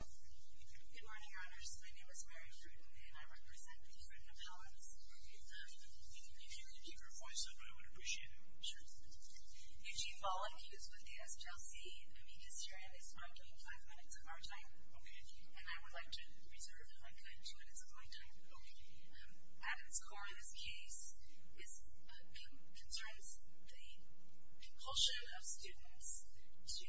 Good morning, your honors. My name is Mary Frudden, and I represent the Frudden Appellants. If you could keep your voice up, I would appreciate it. Sure. Eugene Bolling, who is with the SGLC, and Amita Sirian is marking five minutes of our time. And I would like to reserve, if I could, two minutes of my time. At its core, this case concerns the compulsion of students to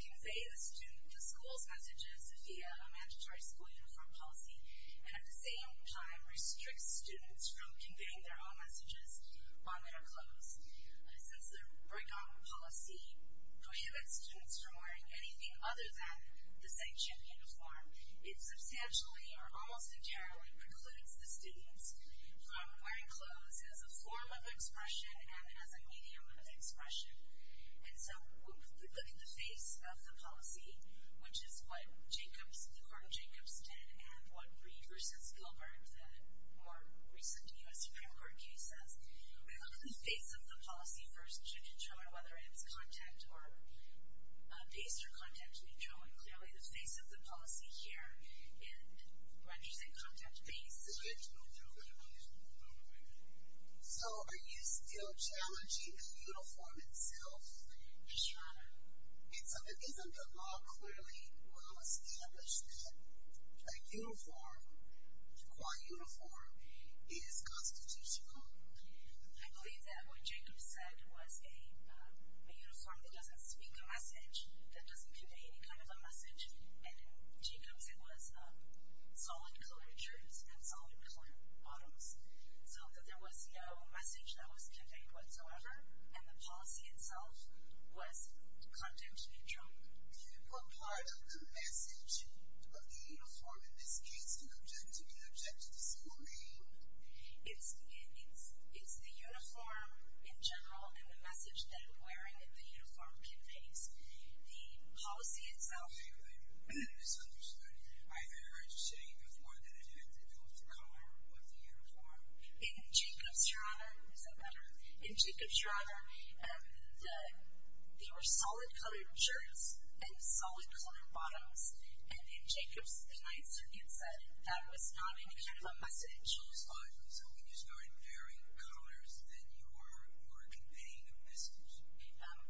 convey the student to school's messages via a mandatory school uniform policy, and at the same time restricts students from conveying their own messages while they are clothed. Since the break-off policy prohibits students from wearing anything other than the sanctioned uniform, it substantially or almost entirely precludes the students from wearing clothes as a form of expression and as a medium of expression. And so, when we look at the face of the policy, which is what the Court of Jacobs did and what Reed v. Gilbert, the more recent U.S. Supreme Court case, says, when we look at the face of the policy first, you can show whether it's contact-based or contact-neutral. And clearly, the face of the policy here, and when you say contact-based... So, are you still challenging the uniform itself? Yes, Your Honor. And so, isn't the law clearly well established that a uniform, a qua uniform, is constitutional? I believe that what Jacobs said was a uniform that doesn't speak a message, and in Jacobs, it was solid colored shirts and solid colored bottoms, so that there was no message that was conveyed whatsoever, and the policy itself was contact-neutral. What part of the message of the uniform, in this case, do you object to? Do you object to the single name? It's the uniform in general and the message that wearing the uniform conveys. The policy itself... I think I misunderstood. I heard you say before that it had to do with the color of the uniform. In Jacobs, Your Honor... Is that better? In Jacobs, Your Honor, there were solid colored shirts and solid colored bottoms, and in Jacobs, the Ninth Circuit said that was not any kind of a message. I'm sorry. So, when you started varying colors, then you were conveying a message?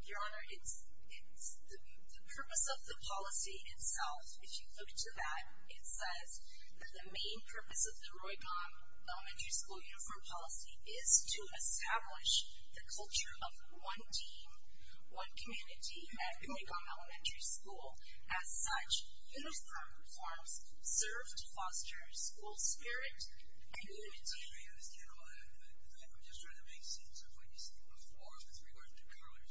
Your Honor, the purpose of the policy itself, if you look to that, it says that the main purpose of the Roy Com Elementary School uniform policy is to establish the culture of one team, one community at Roy Com Elementary School. As such, uniform forms serve to foster school spirit and unity. I understand all that, but I'm just trying to make sense of what you said before with regards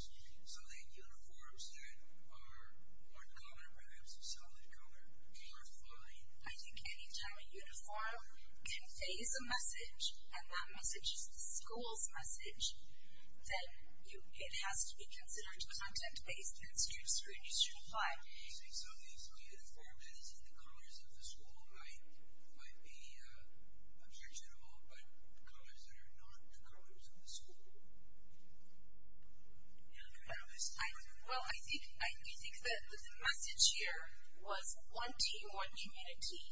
to colors. So, the uniforms that are more common, perhaps a solid color, are fine? I think any time a uniform conveys a message, and that message is the school's message, then it has to be considered content-based and student scrutiny should apply. So, you're saying some of these uniforms that are the colors of the school might be objectionable, but colors that are not the colors of the school? Well, I think that the message here was one team, one community,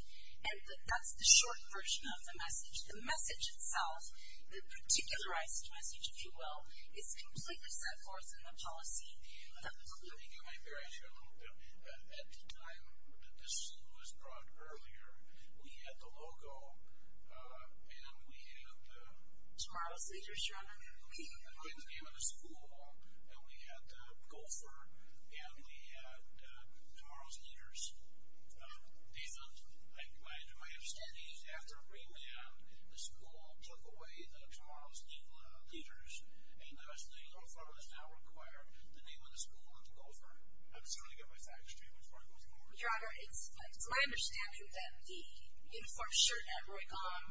and that's the short version of the message. The message itself, the particularized message, if you will, is completely set forth in the policy. Let me get my bearings here a little bit. At the time that this was brought earlier, we had the logo, and we had the… Tomorrow's leaders, John. The kids came into school, and we had the gopher, and we had tomorrow's leaders. I imagine my understanding is after remand, the school took away the tomorrow's leaders, and the uniform does not require the name of the school or the gopher. I'm just trying to get my facts straight before I go forward. Your Honor, it's my understanding that the uniform shirt at Roycom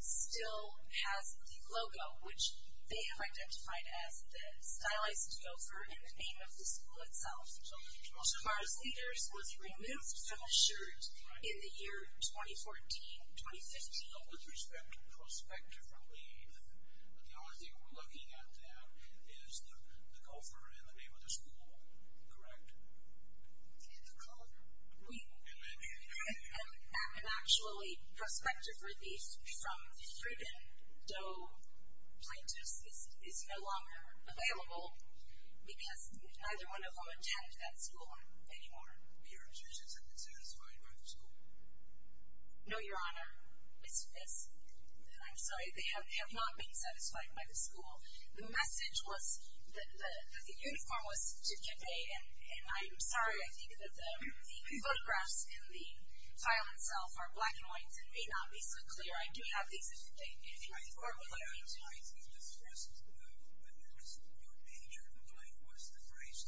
still has the logo, which they have identified as the stylized gopher in the name of the school itself. Tomorrow's leaders was removed from the shirt in the year 2014-2015. So, with respect to prospective relief, the only thing we're looking at now is the gopher in the name of the school, correct? The color? We… And then… Actually, prospective relief from Frieden, though plaintiff's, is no longer available because neither one of them attend that school anymore. Your insurance hasn't been satisfied by the school? No, Your Honor. It's… I'm sorry. They have not been satisfied by the school. The message was that the uniform was to get paid, and I'm sorry. I think that the photographs in the file itself are black and white. It may not be so clear. I do have these in front of me. I think the first witness, your major complaint was the phrase,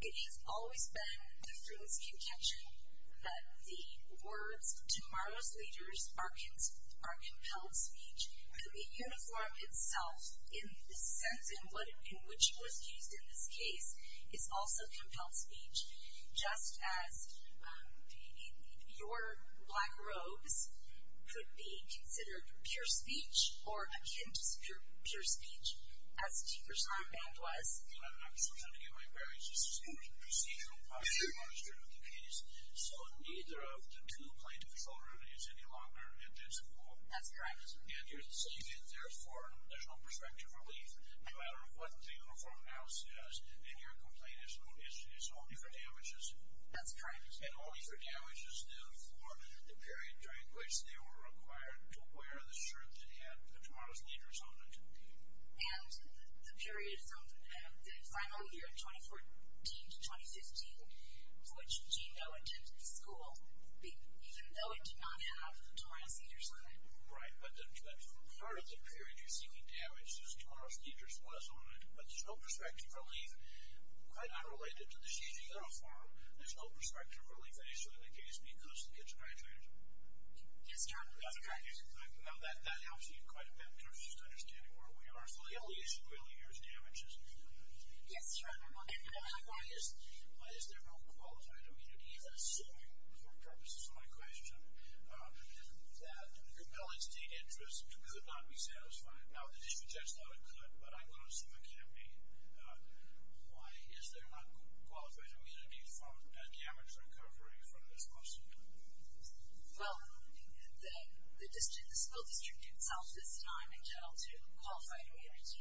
It has always been, through this contention, that the words tomorrow's leaders are compelled speech. And the uniform itself, in the sense in which it was used in this case, is also compelled speech. Just as your black robes could be considered pure speech, or akin to pure speech, as Tinker's lamp band was. I'm sorry to give you my worries. This is procedural. I'm very honest with you with the case. So, neither of the two plaintiff's children is any longer at this school? That's correct. And you're saying, therefore, there's no prospective relief, no matter what the uniform now says, and your complaint is only for damages? That's correct. And only for damages, then, for the period during which they were required to wear the shirt that had tomorrow's leaders on it. And the period from the final year of 2014 to 2015, which Gino attended the school, even though it did not have tomorrow's leaders on it. Right. But part of the period you're seeking damages, tomorrow's leaders was on it. But there's no prospective relief, quite unrelated to the GINO form. There's no prospective relief, initially, in the case, because the kids are graduating tomorrow. That's correct. Now, that helps you quite a bit in terms of just understanding where we are. So, the only issue, really, here is damages. Yes, that's right. And the only one is, is there no qualified immunity? I'm assuming, for purposes of my question, that compelling state interest could not be satisfied. Now, the district judge thought it could, but I'm going to assume it can't be. Why is there not qualified immunity from the damage recovery from this lawsuit? Well, the school district itself, this time, in general, too, qualified immunity.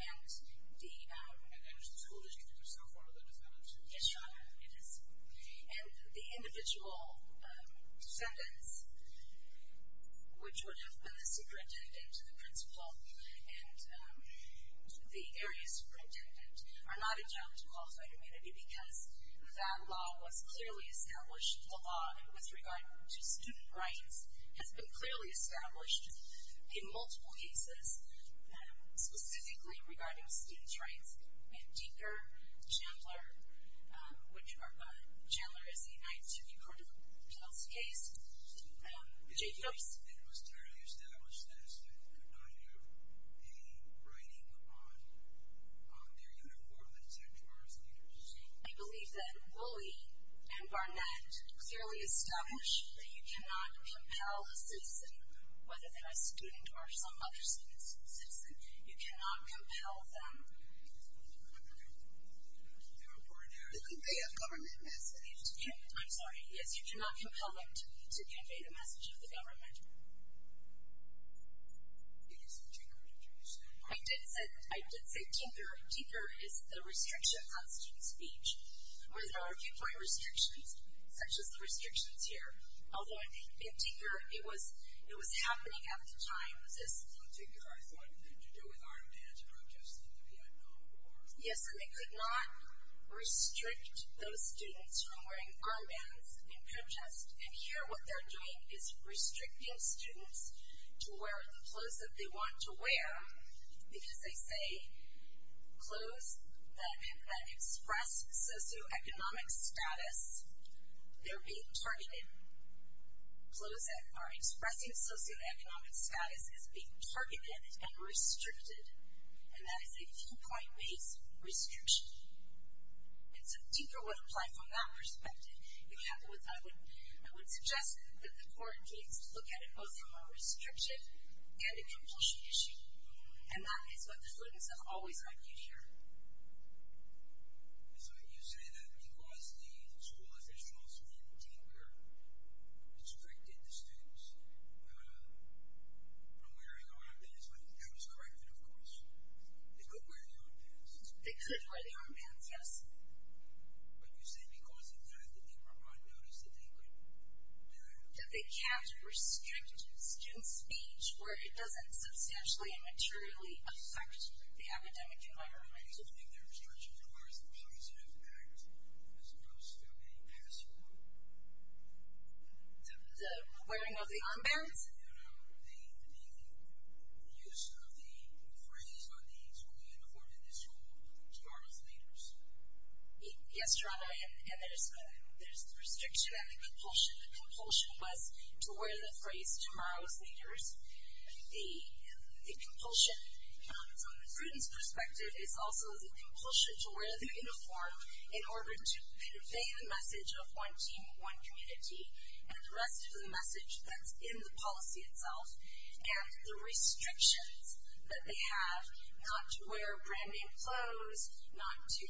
And is the school district itself one of the defendants? Yes, Your Honor, it is. And the individual defendants, which would have been the superintendent, the principal, and the area superintendent, are not entitled to qualified immunity because that law was clearly established. The law, with regard to student rights, has been clearly established in multiple cases, specifically regarding student's rights. We have Dinker, Chandler, which Chandler is a United City Court of Appeals case. It was clearly established that a student could not do a writing on their uniform, et cetera. I believe that Woolley and Barnett clearly established that you cannot compel a citizen, whether they're a student or some other citizen, you cannot compel them to convey a government message. I'm sorry. Yes, you cannot compel them to convey the message of the government. Did you say Dinker or Chandler? I did say Dinker. Dinker is the restriction on student speech, where there are viewpoint restrictions, such as the restrictions here. Although, in Dinker, it was happening at the time. In Dinker, I thought it had to do with armed anti-protest in the Vietnam War. Yes, and they could not restrict those students from wearing garments in protest. And here, what they're doing is restricting students to wear the clothes that they want to wear, because they say clothes that express socioeconomic status, they're being targeted. Clothes that are expressing socioeconomic status is being targeted and restricted, and that is a viewpoint-based restriction. And so, Dinker would apply from that perspective. I would suggest that the court takes a look at it both from a restriction and a completion issue, and that is what the students have always argued here. And so you say that because the school officials in Dinker restricted the students from wearing armbands, that was correct then, of course. They could wear the armbands. They could wear the armbands, yes. But you say because of that, that they were unnoticed, that they could do that. That they can't restrict students' speech where it doesn't substantially and materially affect the academic environment. Do you think their restriction requires a positive act as opposed to a password? The wearing of the armbands? Yes. The use of the phrase on the school uniform in the school, tomorrow's leaders. Yes, Jerome, and there's the restriction and the compulsion. The compulsion was to wear the phrase, tomorrow's leaders. The compulsion from the student's perspective is also the compulsion to wear the uniform in order to convey the message of one team, one community, and the rest of the message that's in the policy itself. And the restrictions that they have, not to wear brand-name clothes, not to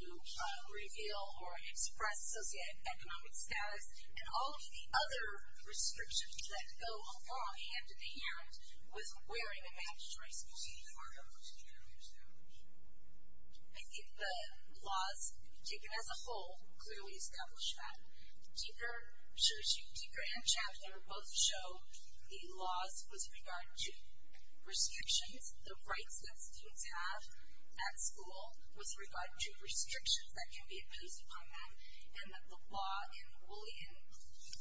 reveal or express socioeconomic status, and all of the other restrictions that go hand-in-hand with wearing a mandatory school uniform. I think the laws taken as a whole clearly establish that. Deker and Chapter both show the laws with regard to restrictions, the rights that students have at school with regard to restrictions that can be imposed upon them, and that the law in Boolean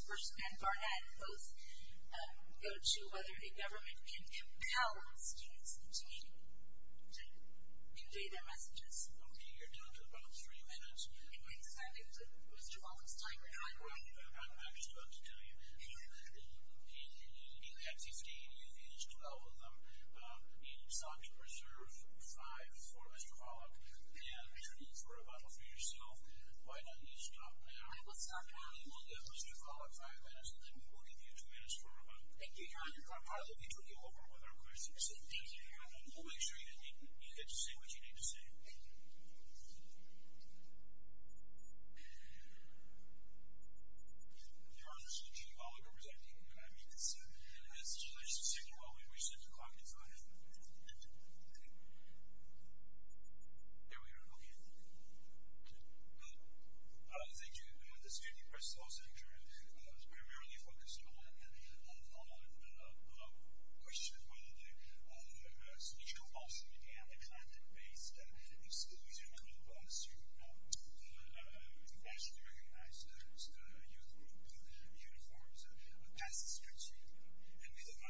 and Barnett both go to whether a government can compel students to convey their messages. Okay, you're down to about three minutes. Mr. Follett's time is running out. I'm just about to tell you. You have 15, you've used 12 of them. You sought to preserve five for Mr. Follett, and for a bottle for yourself. Why don't you stop now? I will stop now. We'll give Mr. Follett five minutes, and then we will give you two minutes for a bottle. Thank you, Jerome. I'm proud that we took you over with our questions. Thank you, Jerome. We'll make sure you get to say what you need to say. Thank you. If you are listening to me while I'm representing, you can unmute yourself. In this situation, while we wish that the clock is on, there we are. Okay. Thank you. This is Andy Press, Los Angeles. I was primarily focused on the question of whether the school also began a content-based exclusion group as soon as the nationally recognized youth group uniforms passed the streets here. Is there an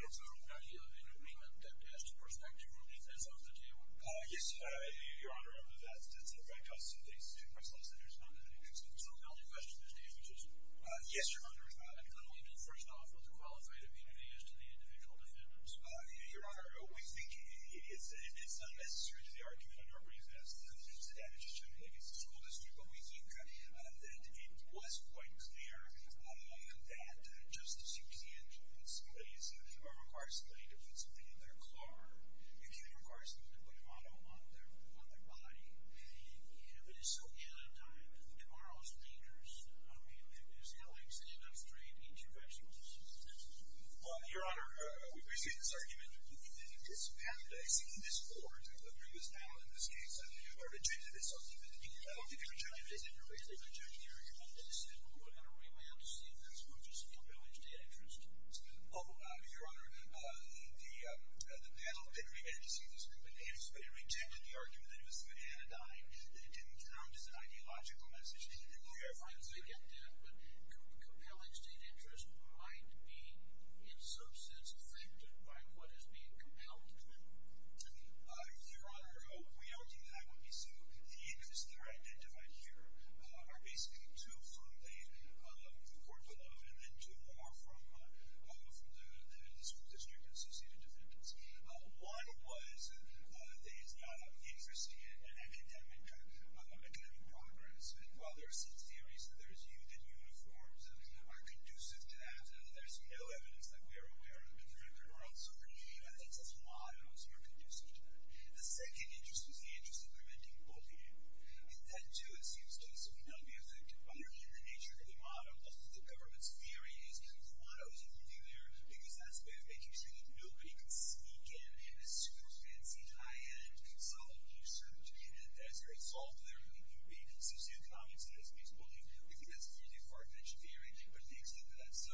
agreement to ask for perspective relief as of today? Yes, Your Honor. That's a direct question. The Student Press Law Center is not in the mix. So the only question today, which is, yes, Your Honor, I'm going to leave you first off with the qualified immunity as to the individual defendants. Your Honor, we think it's unnecessary to the argument under our briefness. The damage is generally against the school district, but we think that it was quite clear that just as you can't put somebody who requires somebody to put something in their car, you can't require somebody to put a model on their body. And if it is so ill-timed, who are those thinkers? I mean, there's Alex and I'm afraid, eat your vegetables. Well, Your Honor, we've received this argument. We think this pathodizing discourse of the group is now, in this case, are rejected as something that you don't think is rejected. Is it really rejected? Your Honor, they said, well, we're going to remand to see if this group is compelling state interest. Oh, Your Honor, the panel didn't remand to see if this group is compelling state interest, but they rejected the argument that it was an anodyne, that it didn't count as an ideological message. But compelling state interest might be, in some sense, affected by what is being compelled. Your Honor, we don't think that would be so. The interests that are identified here are basically two from the court below and then two more from the school district associated defendants. One was that there is not an interest in an academic progress. While there are some theories that there is a use of uniforms that are conducive to that, there's no evidence that we are aware of a different world. So we believe that that's a flaw that also are conducive to that. The second interest was the interest of preventing bullying. And that too, it seems to us, would not be affected. But in the nature of the model, most of the government's theory is the model isn't moving there because that's a way of making sure that nobody can sneak in and do super fancy, high-end consult research and as a result, there would be socioeconomic status-based bullying. We think that's really far-fetched theory, but it makes sense for that. So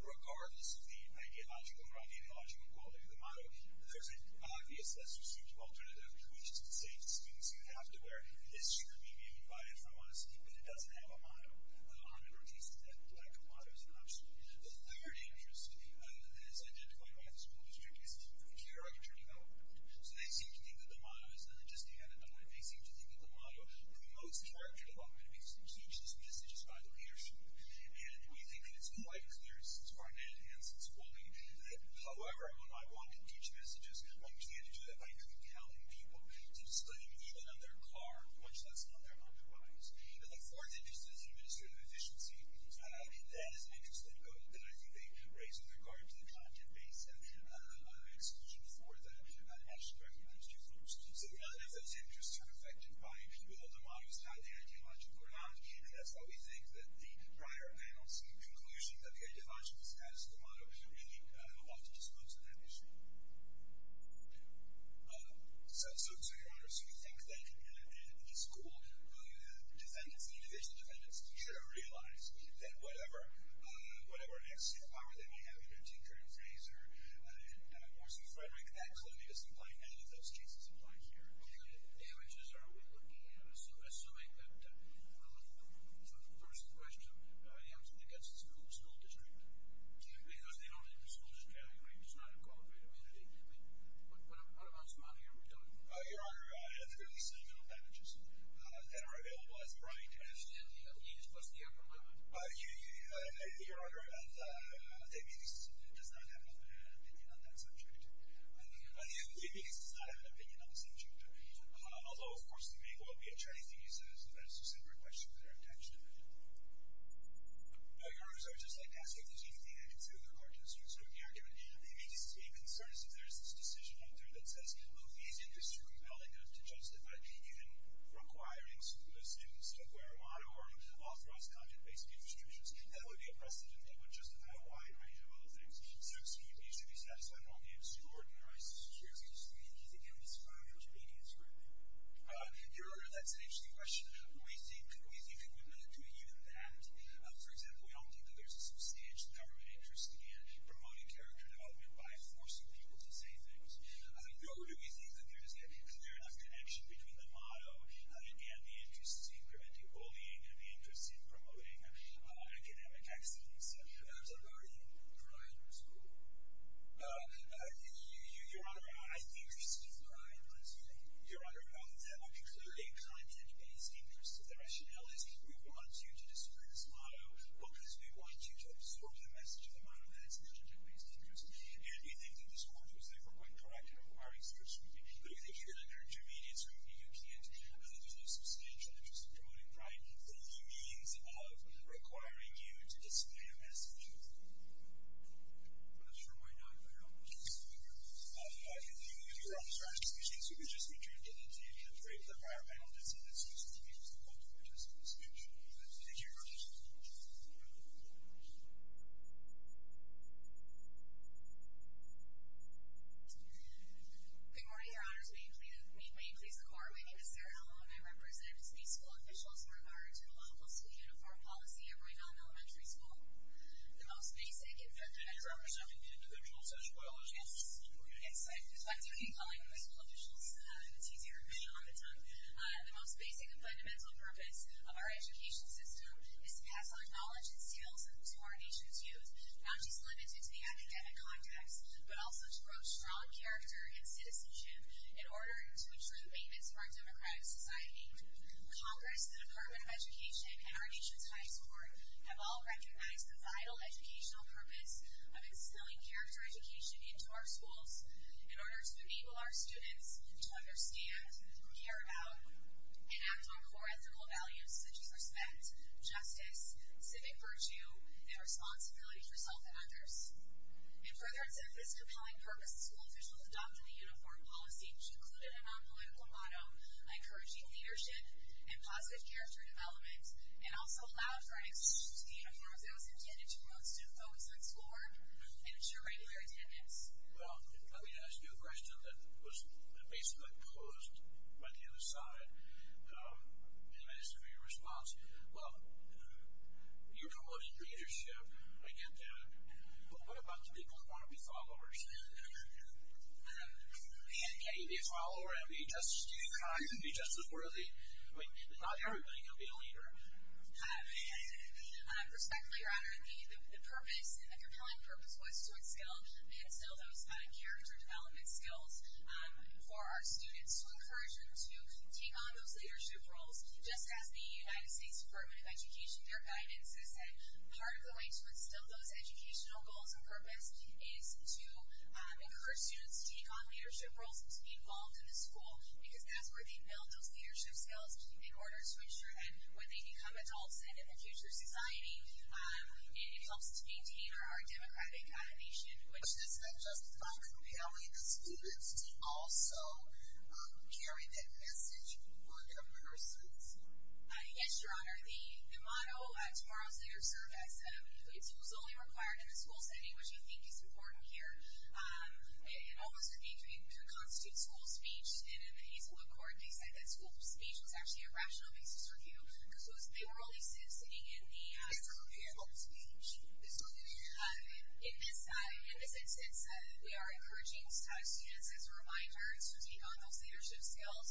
regardless of the ideological or non-ideological quality of the model, there's an obvious, less restrictive alternative, which is to say, the students who have to wear this should be being invited from us, but it doesn't have a model on it, or at least that lack of a model is an option. The third interest that is identified by the school district is the character development. So they seem to think that the motto is just to hand it on. They seem to think that the motto promotes the character development and makes them teach those messages by the leadership. And we think that it's quite clear since Barnett and since Bulling that, however, when I want to teach messages, I plan to do that by really telling people to study even on their car, much less on their underwires. And the fourth interest is administrative efficiency. That is an interest that I think they raise with regard to the content-based execution for the actual curriculum students. So regardless of those interests, they're affected by people that the motto is not the ideological or not, and that's why we think that the prior announcement conclusion that the ideological status of the motto really ought to disclose that issue. So, Your Honor, so you think that in a school, the defendants, the individual defendants should have realized that whatever power they may have, you know, Tinker and Fraser and Morrison-Frederick, that clearly doesn't apply here. None of those cases apply here. Okay. The damages are we looking at? Assuming that the first question I answered against the school district, because they don't really disclose it now, you know, it's not incorporated. I mean, I think that we... But what about some of the other damages? Your Honor, there are at least seven other damages that are available as a prior interest. And he has crossed the upper limit? You, Your Honor, the APAC does not have an opinion on that subject. The APAC does not have an opinion on this subject. Although, of course, the main one would be a Chinese visa, so that's a separate question for their intention. Your Honor, I would just like to ask if there's anything I can say with regard to the school district argument. The main concern is if there's this decision out there that says, well, these interests are compelling enough to justify even requiring students to wear a motto or authorize content-based distributions, that would be a precedent that would justify a wide range of other things. So, excuse me, should we satisfy normal views to ordinarize security? Excuse me. Do you think it would describe the Chinese group? Your Honor, that's an interesting question. We think it would not do even that. For example, we don't think that there's a substantial government interest in promoting character development by forcing people to say things. Nor do we think that there is a clear enough connection between the motto and the interest in preventing bullying and the interest in promoting academic excellence that are in the provider's pool. Your Honor, I think there's two varieties. Your Honor, both of them include a content-based interest. The rationale is we want you to display this motto because we want you to absorb the message of the motto. That's a content-based interest. And we think that this court was, therefore, quite correct in requiring such scrutiny. But we think even under intermediate scrutiny, you can't do a substantial interest in promoting pride through the means of requiring you to display a message. I'm not sure why not, but I don't want to disappoint you. If Your Honor's excuse me, so we've just returned to the time frame of the prior panel discussion. It seems to me that there's a lot more to this discussion. Thank you, Your Honor. Good morning, Your Honors. May it please the Court, my name is Sarah Allen. I represent the school officials in regard to the lawful school uniform policy at Rhinelm Elementary School. The most basic and fundamental... And you're representing the individuals as well as the school? Yes. It's like doing the calling of the school officials. It's easier for me on the tongue. The most basic and fundamental purpose of our education system is to pass on our knowledge and skills to our nation's youth. Not just limited to the academic context, but also to grow strong character and citizenship in order to ensure the maintenance of our democratic society. Congress, the Department of Education, and our nation's highest court have all recognized the vital educational purpose of instilling character education into our schools in order to enable our students to understand, care about, and act on core ethical values such as respect, justice, civic virtue, and responsibility for self and others. In furtherance of this compelling purpose, the school officials adopted the uniform policy which included a non-political motto encouraging leadership and positive character development and also allowed for an extension to the uniforms that was intended to promote student-focused learning and ensure regular attendance. Well, let me ask you a question that was basically posed by the other side. And it's for your response. Well, you're promoting leadership. I get that. But what about the people who want to be followers? And can you be a follower and be just as kind, be just as worthy? I mean, not everybody can be a leader. Respectfully, Your Honor, the purpose and the compelling purpose was to instill those character development skills for our students to encourage them to take on those leadership roles. Just as the United States Department of Education, their guidance has said part of the way to instill those educational goals and purpose is to encourage students to take on leadership roles and to be involved in the school because that's where they build those leadership skills in order to ensure that when they become adults and in the future society, it helps to maintain our democratic nation. But isn't that justifying compelling the students to also carry that message for their persons? Yes, Your Honor. The motto at Tomorrow's Leader served as it was only required in the school setting, which I think is important here. It almost constitutes school speech. And in the Hazelwood Court, they said that school speech was actually a rational basis for view because they were only sitting in the... It's only in school speech. It's only in school speech. In this instance, we are encouraging students as a reminder to take on those leadership skills.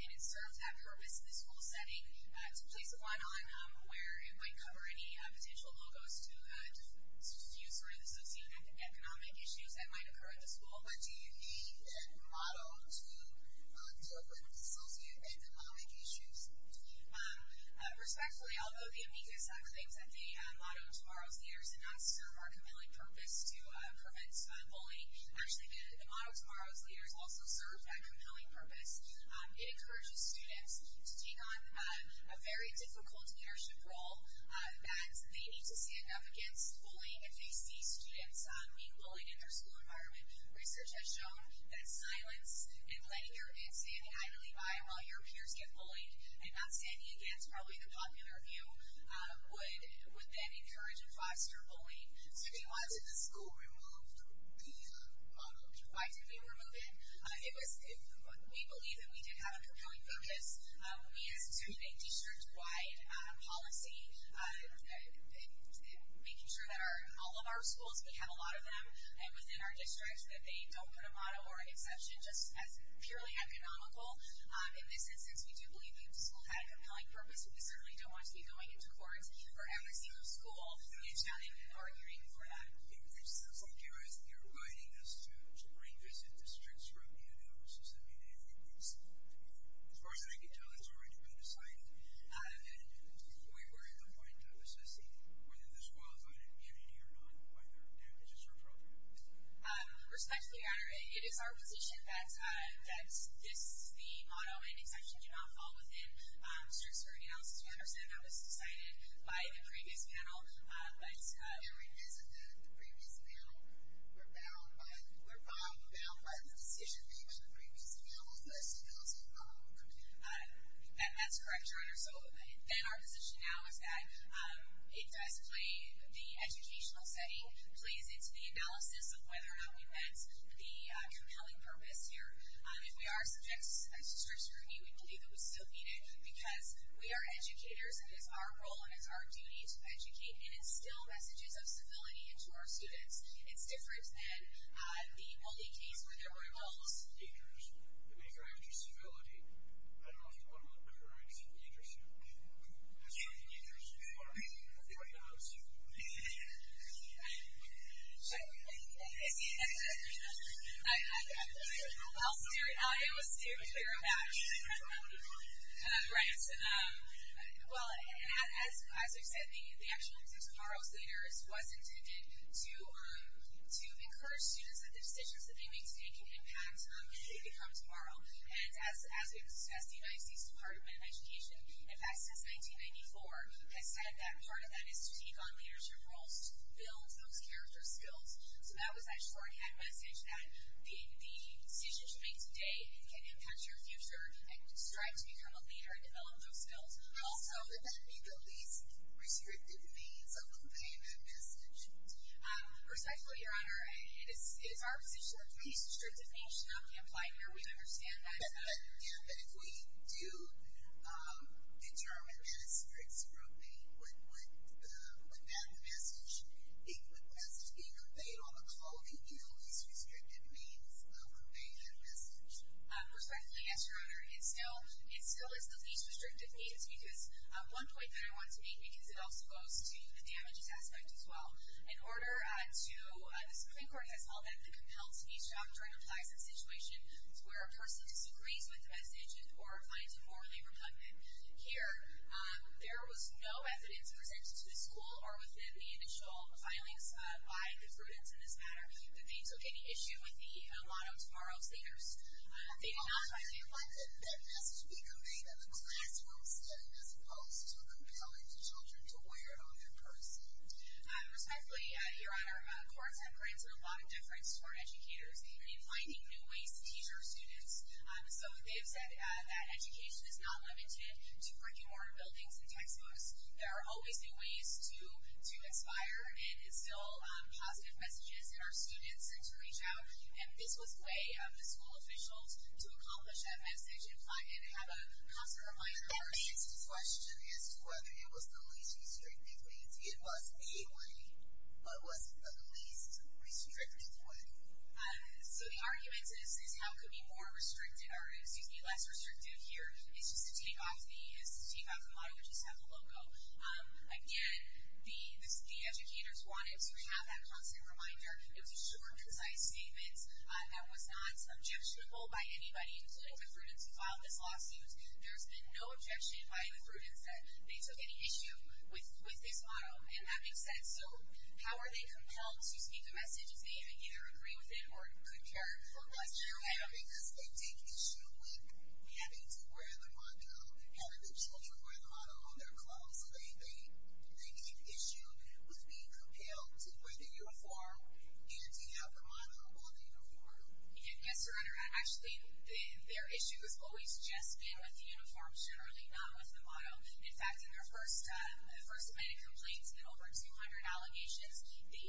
And it serves that purpose in the school setting to place a line on where it might cover any potential logos to diffuse or associate economic issues that might occur at the school. What do you mean in the motto to associate economic issues? Respectfully, although the amicus claims that the motto Tomorrow's Leaders did not serve our compelling purpose to prevent bullying, actually the motto Tomorrow's Leaders also served that compelling purpose. It encourages students to take on a very difficult leadership role that they need to stand up against bullying if they see students being bullied in their school environment. Research has shown that silence and standing idly by while your peers get bullied and not standing against probably the popular view would then encourage and foster bullying. So if you wanted the school removed, or the motto removed... Why did we remove it? We believe that we did have a compelling purpose. We as a student, a district-wide policy, making sure that all of our schools, we have a lot of them within our district, that they don't put a motto or an exception just as purely economical. In this instance, we do believe that the school had a compelling purpose. We certainly don't want to be going into court for every single school and now they've been arguing for that. It sounds like you're inviting us to revisit districts throughout the United States. As far as I can tell, it's already been decided. And we were at the point of assessing whether this was an amenity or not, and whether this is appropriate. Respectfully, Your Honor, it is our position that this, the motto and exception, do not fall within district-spirited analysis. We understand that was decided by the previous panel, but... It hasn't been. The previous panel were bound by the decision made by the previous panel, but it still is an amenity. That's correct, Your Honor. So then our position now is that it does play the educational setting, plays into the analysis of whether or not we met the compelling purpose here. If we are subject to district scrutiny, we believe that we still need it, because we are educators, and it's our role and it's our duty to educate and instill messages of civility into our students. It's different than the only case where there were adults. It's dangerous. The major act of civility, I don't know if you want to call it courage. Dangerous. I'm sorry, I'm sorry. I think I lost you. I'm sorry. I'm sorry. I'm sorry. I'm sorry. I'm sorry. I'll steer it. I'll steer it. I will steer it. We're a match. We're a match. Right. Well, as I said, the action of tomorrow's leaders was intended to encourage students that the decisions that they make today can impact what they become tomorrow, and as we've discussed, the United States Department of Education, in fact, since 1994, has said that part of that is to take on leadership roles to build those character skills. So that was actually our head message, that the decisions you make today can impact your future and strive to become a leader and develop those skills. Also, did that meet the least restrictive means of conveying that message? Respectfully, Your Honor, it is our position that the least restrictive means should not be implied here. We understand that. Yeah, but if we do determine that a student's group would pass the message, it would pass the message being conveyed on the clothing in the least restrictive means of conveying that message. Respectfully, yes, Your Honor, it still is the least restrictive means because one point that I want to make, because it also goes to the damages aspect as well, in order to... the Supreme Court has called that the compelled speech doctrine implies a situation where a person disagrees with the message or finds it morally repugnant. Here, there was no evidence presented to the school or within the initial filings by the prudence in this matter that they took any issue with the lot of tomorrow's leaders. They did not... Also, Your Honor, couldn't that message be conveyed in a classroom setting as opposed to compelling the children to wear it on their person? Respectfully, Your Honor, courts have granted a lot of difference to our educators. They've been finding new ways to teach our students, so they have said that education is not limited to brick and mortar buildings and textbooks. There are always new ways to inspire and instill positive messages in our students and to reach out, and this was a way of the school officials to accomplish that message and have a constant reminder... The question is whether it was the least restrictive means. It was, legally, but was it the least restrictive way? So the argument is, how could it be less restrictive here? It's just to take off the motto, which is to have the logo. Again, the educators wanted to have that constant reminder. It was a short, concise statement that was not subjectionable by anybody, including the prudence who filed this lawsuit. There's been no objection by the prudence that they took any issue with this motto, and that makes sense. So how are they compelled to speak the message if they either agree with it or could care less? Because they take issue with having to wear the motto, having the children wear the motto on their clothes, so they take issue with being compelled to wear the uniform and to have the motto on the uniform. Yes, Your Honor. Actually, their issue has always just been with the uniform, generally not with the motto. In fact, in their first minute complaints, in over 200 allegations, the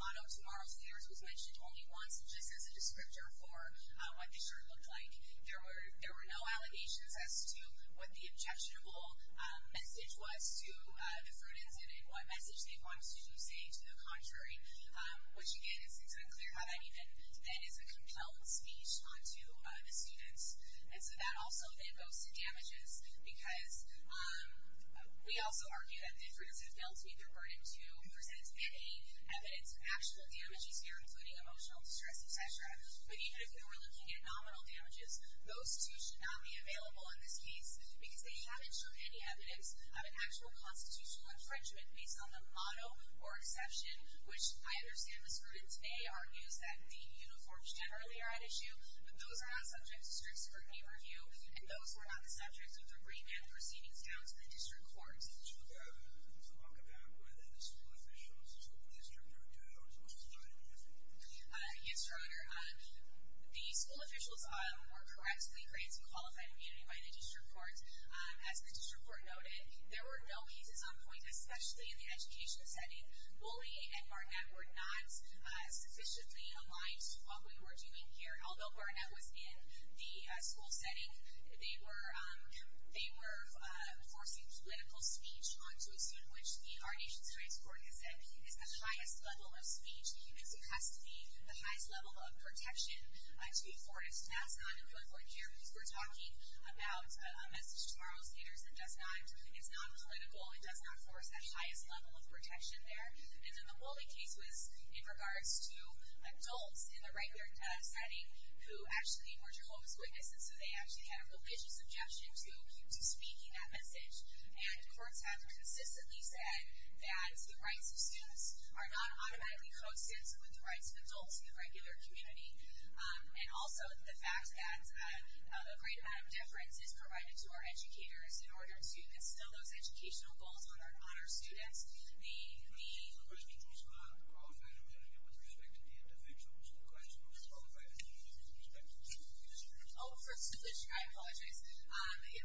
motto tomorrow to theirs was mentioned only once just as a descriptor for what the shirt looked like. There were no allegations as to what the objectionable message was to the prudence and what message they wanted to say to the contrary, which again, it's unclear how that even, that is a compelled speech onto the students. And so that also then goes to damages because we also argue that the prudence have failed to meet their burden to present any evidence of actual damages here, including emotional distress, et cetera. But even if we were looking at nominal damages, those two should not be available in this case because they haven't shown any evidence of an actual constitutional infringement based on the motto or exception, which I understand the scrutiny today argues that the uniforms generally are at issue, but those are not subjects of strict scrutiny review and those were not the subjects of the remand proceedings down to the district court. Is it true to talk about whether the school officials, the school district are due or school is not in effect? Yes, Your Honor. The school officials were correctly granted qualified immunity by the district court. As the district court noted, there were no cases on point, especially in the education setting. Bully and Barnett were not sufficiently aligned to what we were doing here. Although Barnett was in the school setting, they were forcing political speech onto a scene which our nation's highest court has said is the highest level of speech. It has to be the highest level of protection to be afforded. That's not important here because we're talking about a message tomorrow's leaders that it's not political, it does not force that highest level of protection there. And then the bully case was in regards to adults in the regular setting who actually were Jehovah's Witnesses so they actually had a religious objection to speaking that message. And courts have consistently said that the rights of students are not automatically co-sensed with the rights of adults in the regular community. And also the fact that a great amount of deference is provided to our educators in order to instill those educational goals on our students. The school officials were not qualified immunity with respect to the individuals in question, with qualified immunity with respect to the individuals in question. Oh, first of all, I apologize.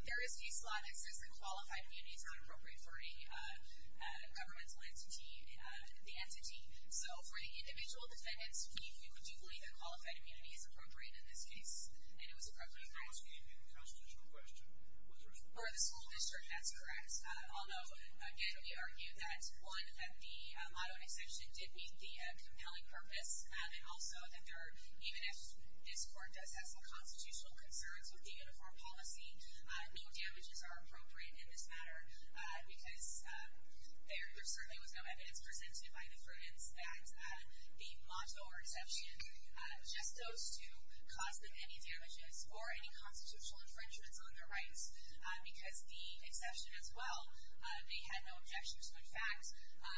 There is a case law that says that qualified immunity is not appropriate for any governmental entity, the entity. So for the individual defendants, we do believe that qualified immunity is appropriate in this case. And it was appropriate. I'm asking a constitutional question. For the school district, that's correct. Although, again, we argue that one, that the motto and exception did meet the compelling purpose. And also that even if this court does have some constitutional concerns with the uniform policy, no damages are appropriate in this matter. Because there certainly was no evidence presented by the friends that the motto or exception just goes to cause them any damages or any constitutional infringements on their rights. Because the exception as well, they had no objection to the fact.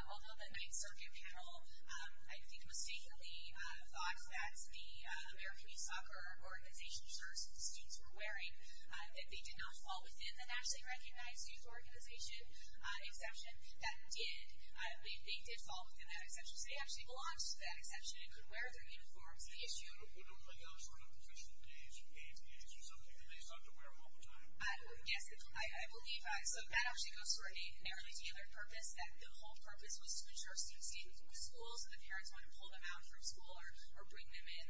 Although the ninth circuit panel, I think, mistakenly thought that the American East Soccer Organization shirts that the students were wearing, that they did not fall within the nationally recognized youth organization exception. That did. They did fall within that exception. So they actually belonged to that exception and could wear their uniforms. The issue. Would it apply to other sort of professional games, games games, or something that they sought to wear all the time? Yes. I believe so. That actually goes for a narrowly tailored purpose, that the whole purpose was to ensure that the students didn't go to school, so the parents wouldn't pull them out from school or bring them in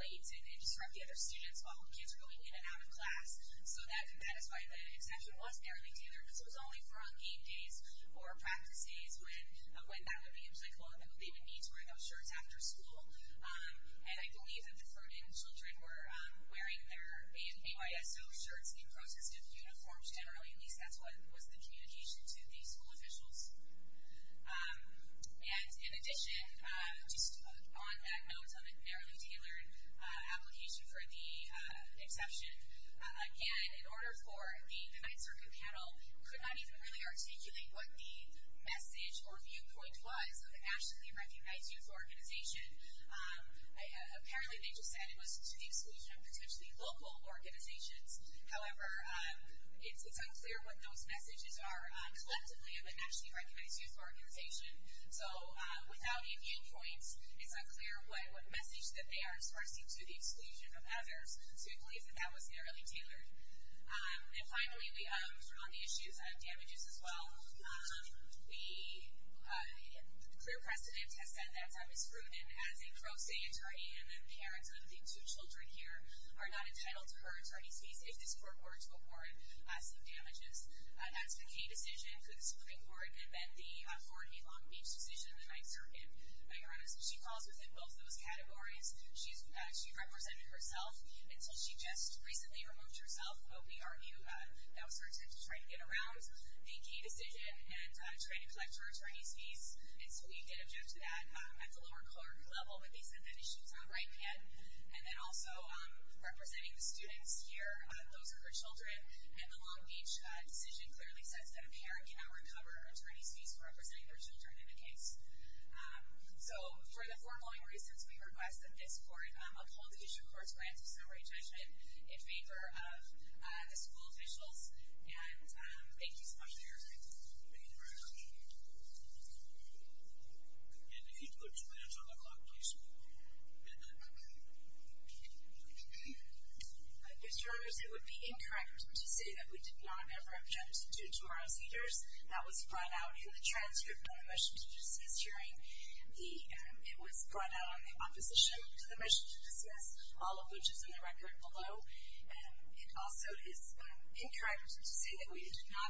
late and disrupt the other students while kids were going in and out of class. So that is why the exception was narrowly tailored. Because it was only for on game days or practice days when that would be a psychological. They would need to wear those shirts after school. And I believe that the Ferdinand children were wearing their ANYSO shirts in protestive uniforms, generally. At least that's what was the communication to the school officials. And in addition, just on that note, on the narrowly tailored application for the exception, again, in order for the Ninth Circuit panel could not even really articulate what the message or viewpoint was of a nationally recognized youth organization. Apparently they just said it was to the exclusion of potentially local organizations. However, it's unclear what those messages are collectively of a nationally recognized youth organization. So without a viewpoint, it's unclear what message that they are expressing to the exclusion of others. So we believe that that was narrowly tailored. And finally, on the issues of damages as well, the clear precedent has said that Thomas Fruden, as a pro se attorney and the parents of the two children here, are not entitled to her attorney's fees if this court were to award some damages. That's the Kay decision for the splitting board, and then the Ford v. Long Beach decision of the Ninth Circuit. She falls within both those categories. She represented herself until she just recently removed herself. But we argue that was her attempt to try to get around the Kay decision and try to collect her attorney's fees. And so we did object to that at the lower court level. But they said that issue was on the right hand. And then also, representing the students here, those are her children. And the Long Beach decision clearly says that a parent cannot recover attorney's fees for representing their children in a case. So for the foregoing reasons, we request that this court uphold the issue court's grant of summary judgment in favor of the school officials. And thank you so much for your time. Thank you very much. And if you'd go two minutes on the clock, please. Mr. Roberts, it would be incorrect to say that we did not ever object to tomorrow's heaters. That was brought out in the transcript of the motion to dismiss hearing. It was brought out on the opposition to the motion to dismiss, all of which is in the record below. It also is incorrect to say that we did not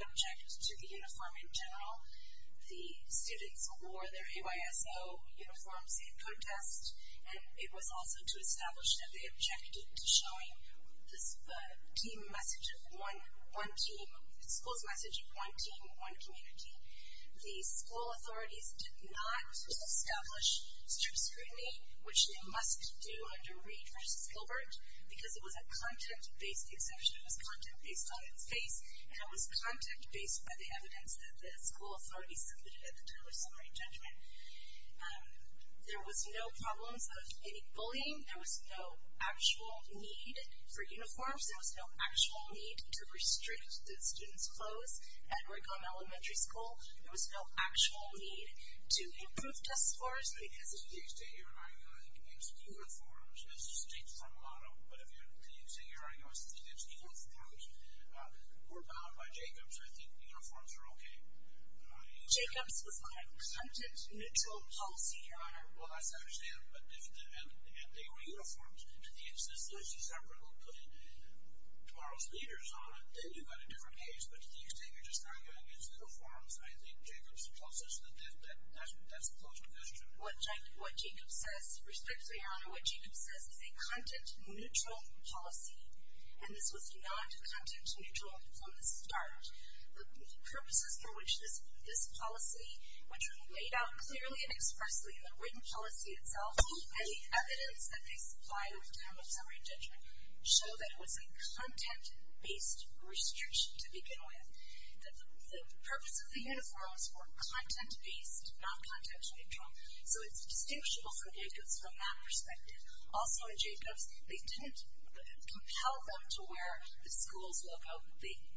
The students wore their AYSO uniforms in contest. And it was also to establish that they objected to showing the school's message of one team, one community. The school authorities did not establish scrutiny, which they must do under Reed v. Gilbert, because it was a content-based exemption. It was content based on its base. And it was content based by the evidence that the school authorities submitted at the time of summary judgment. There was no problems of any bullying. There was no actual need for uniforms. There was no actual need to restrict the students' clothes. At Raycomb Elementary School, there was no actual need to improve test scores. I mean, as a state, you're arguing it's uniforms. As a state, it's uniforms. But if you say you're arguing it's uniforms, we're bound by Jacobs. I think uniforms are OK. Jacobs was not a content-neutral policy, Your Honor. Well, that's not what I'm saying. And they were uniforms. To the extent that Liz DeSembre will put in tomorrow's leaders on it, then you've got a different case. But to the extent you're just arguing it's uniforms, I think Jacobs tells us that that's a closed question. What Jacobs says, respectfully, Your Honor, what Jacobs says is a content-neutral policy. And this was not content-neutral from the start. The purposes for which this policy, which were laid out clearly and expressly in the written policy itself and the evidence that they supplied over time with summary judgment, show that it was a content-based restriction to begin with. The purpose of the uniforms were content-based, not content-neutral. So it's distinguishable from Jacobs from that perspective. Also in Jacobs, they didn't compel them to wear the school's logo.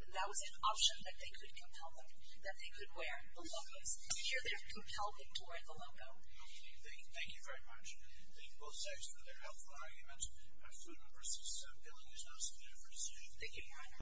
That was an option that they could compel them, that they could wear the logo's. Here, they've compelled them to wear the logo. Thank you. Thank you very much. Thank both sides for their helpful argument. I have two members. Billing is not submitted for decision. Thank you, Your Honor.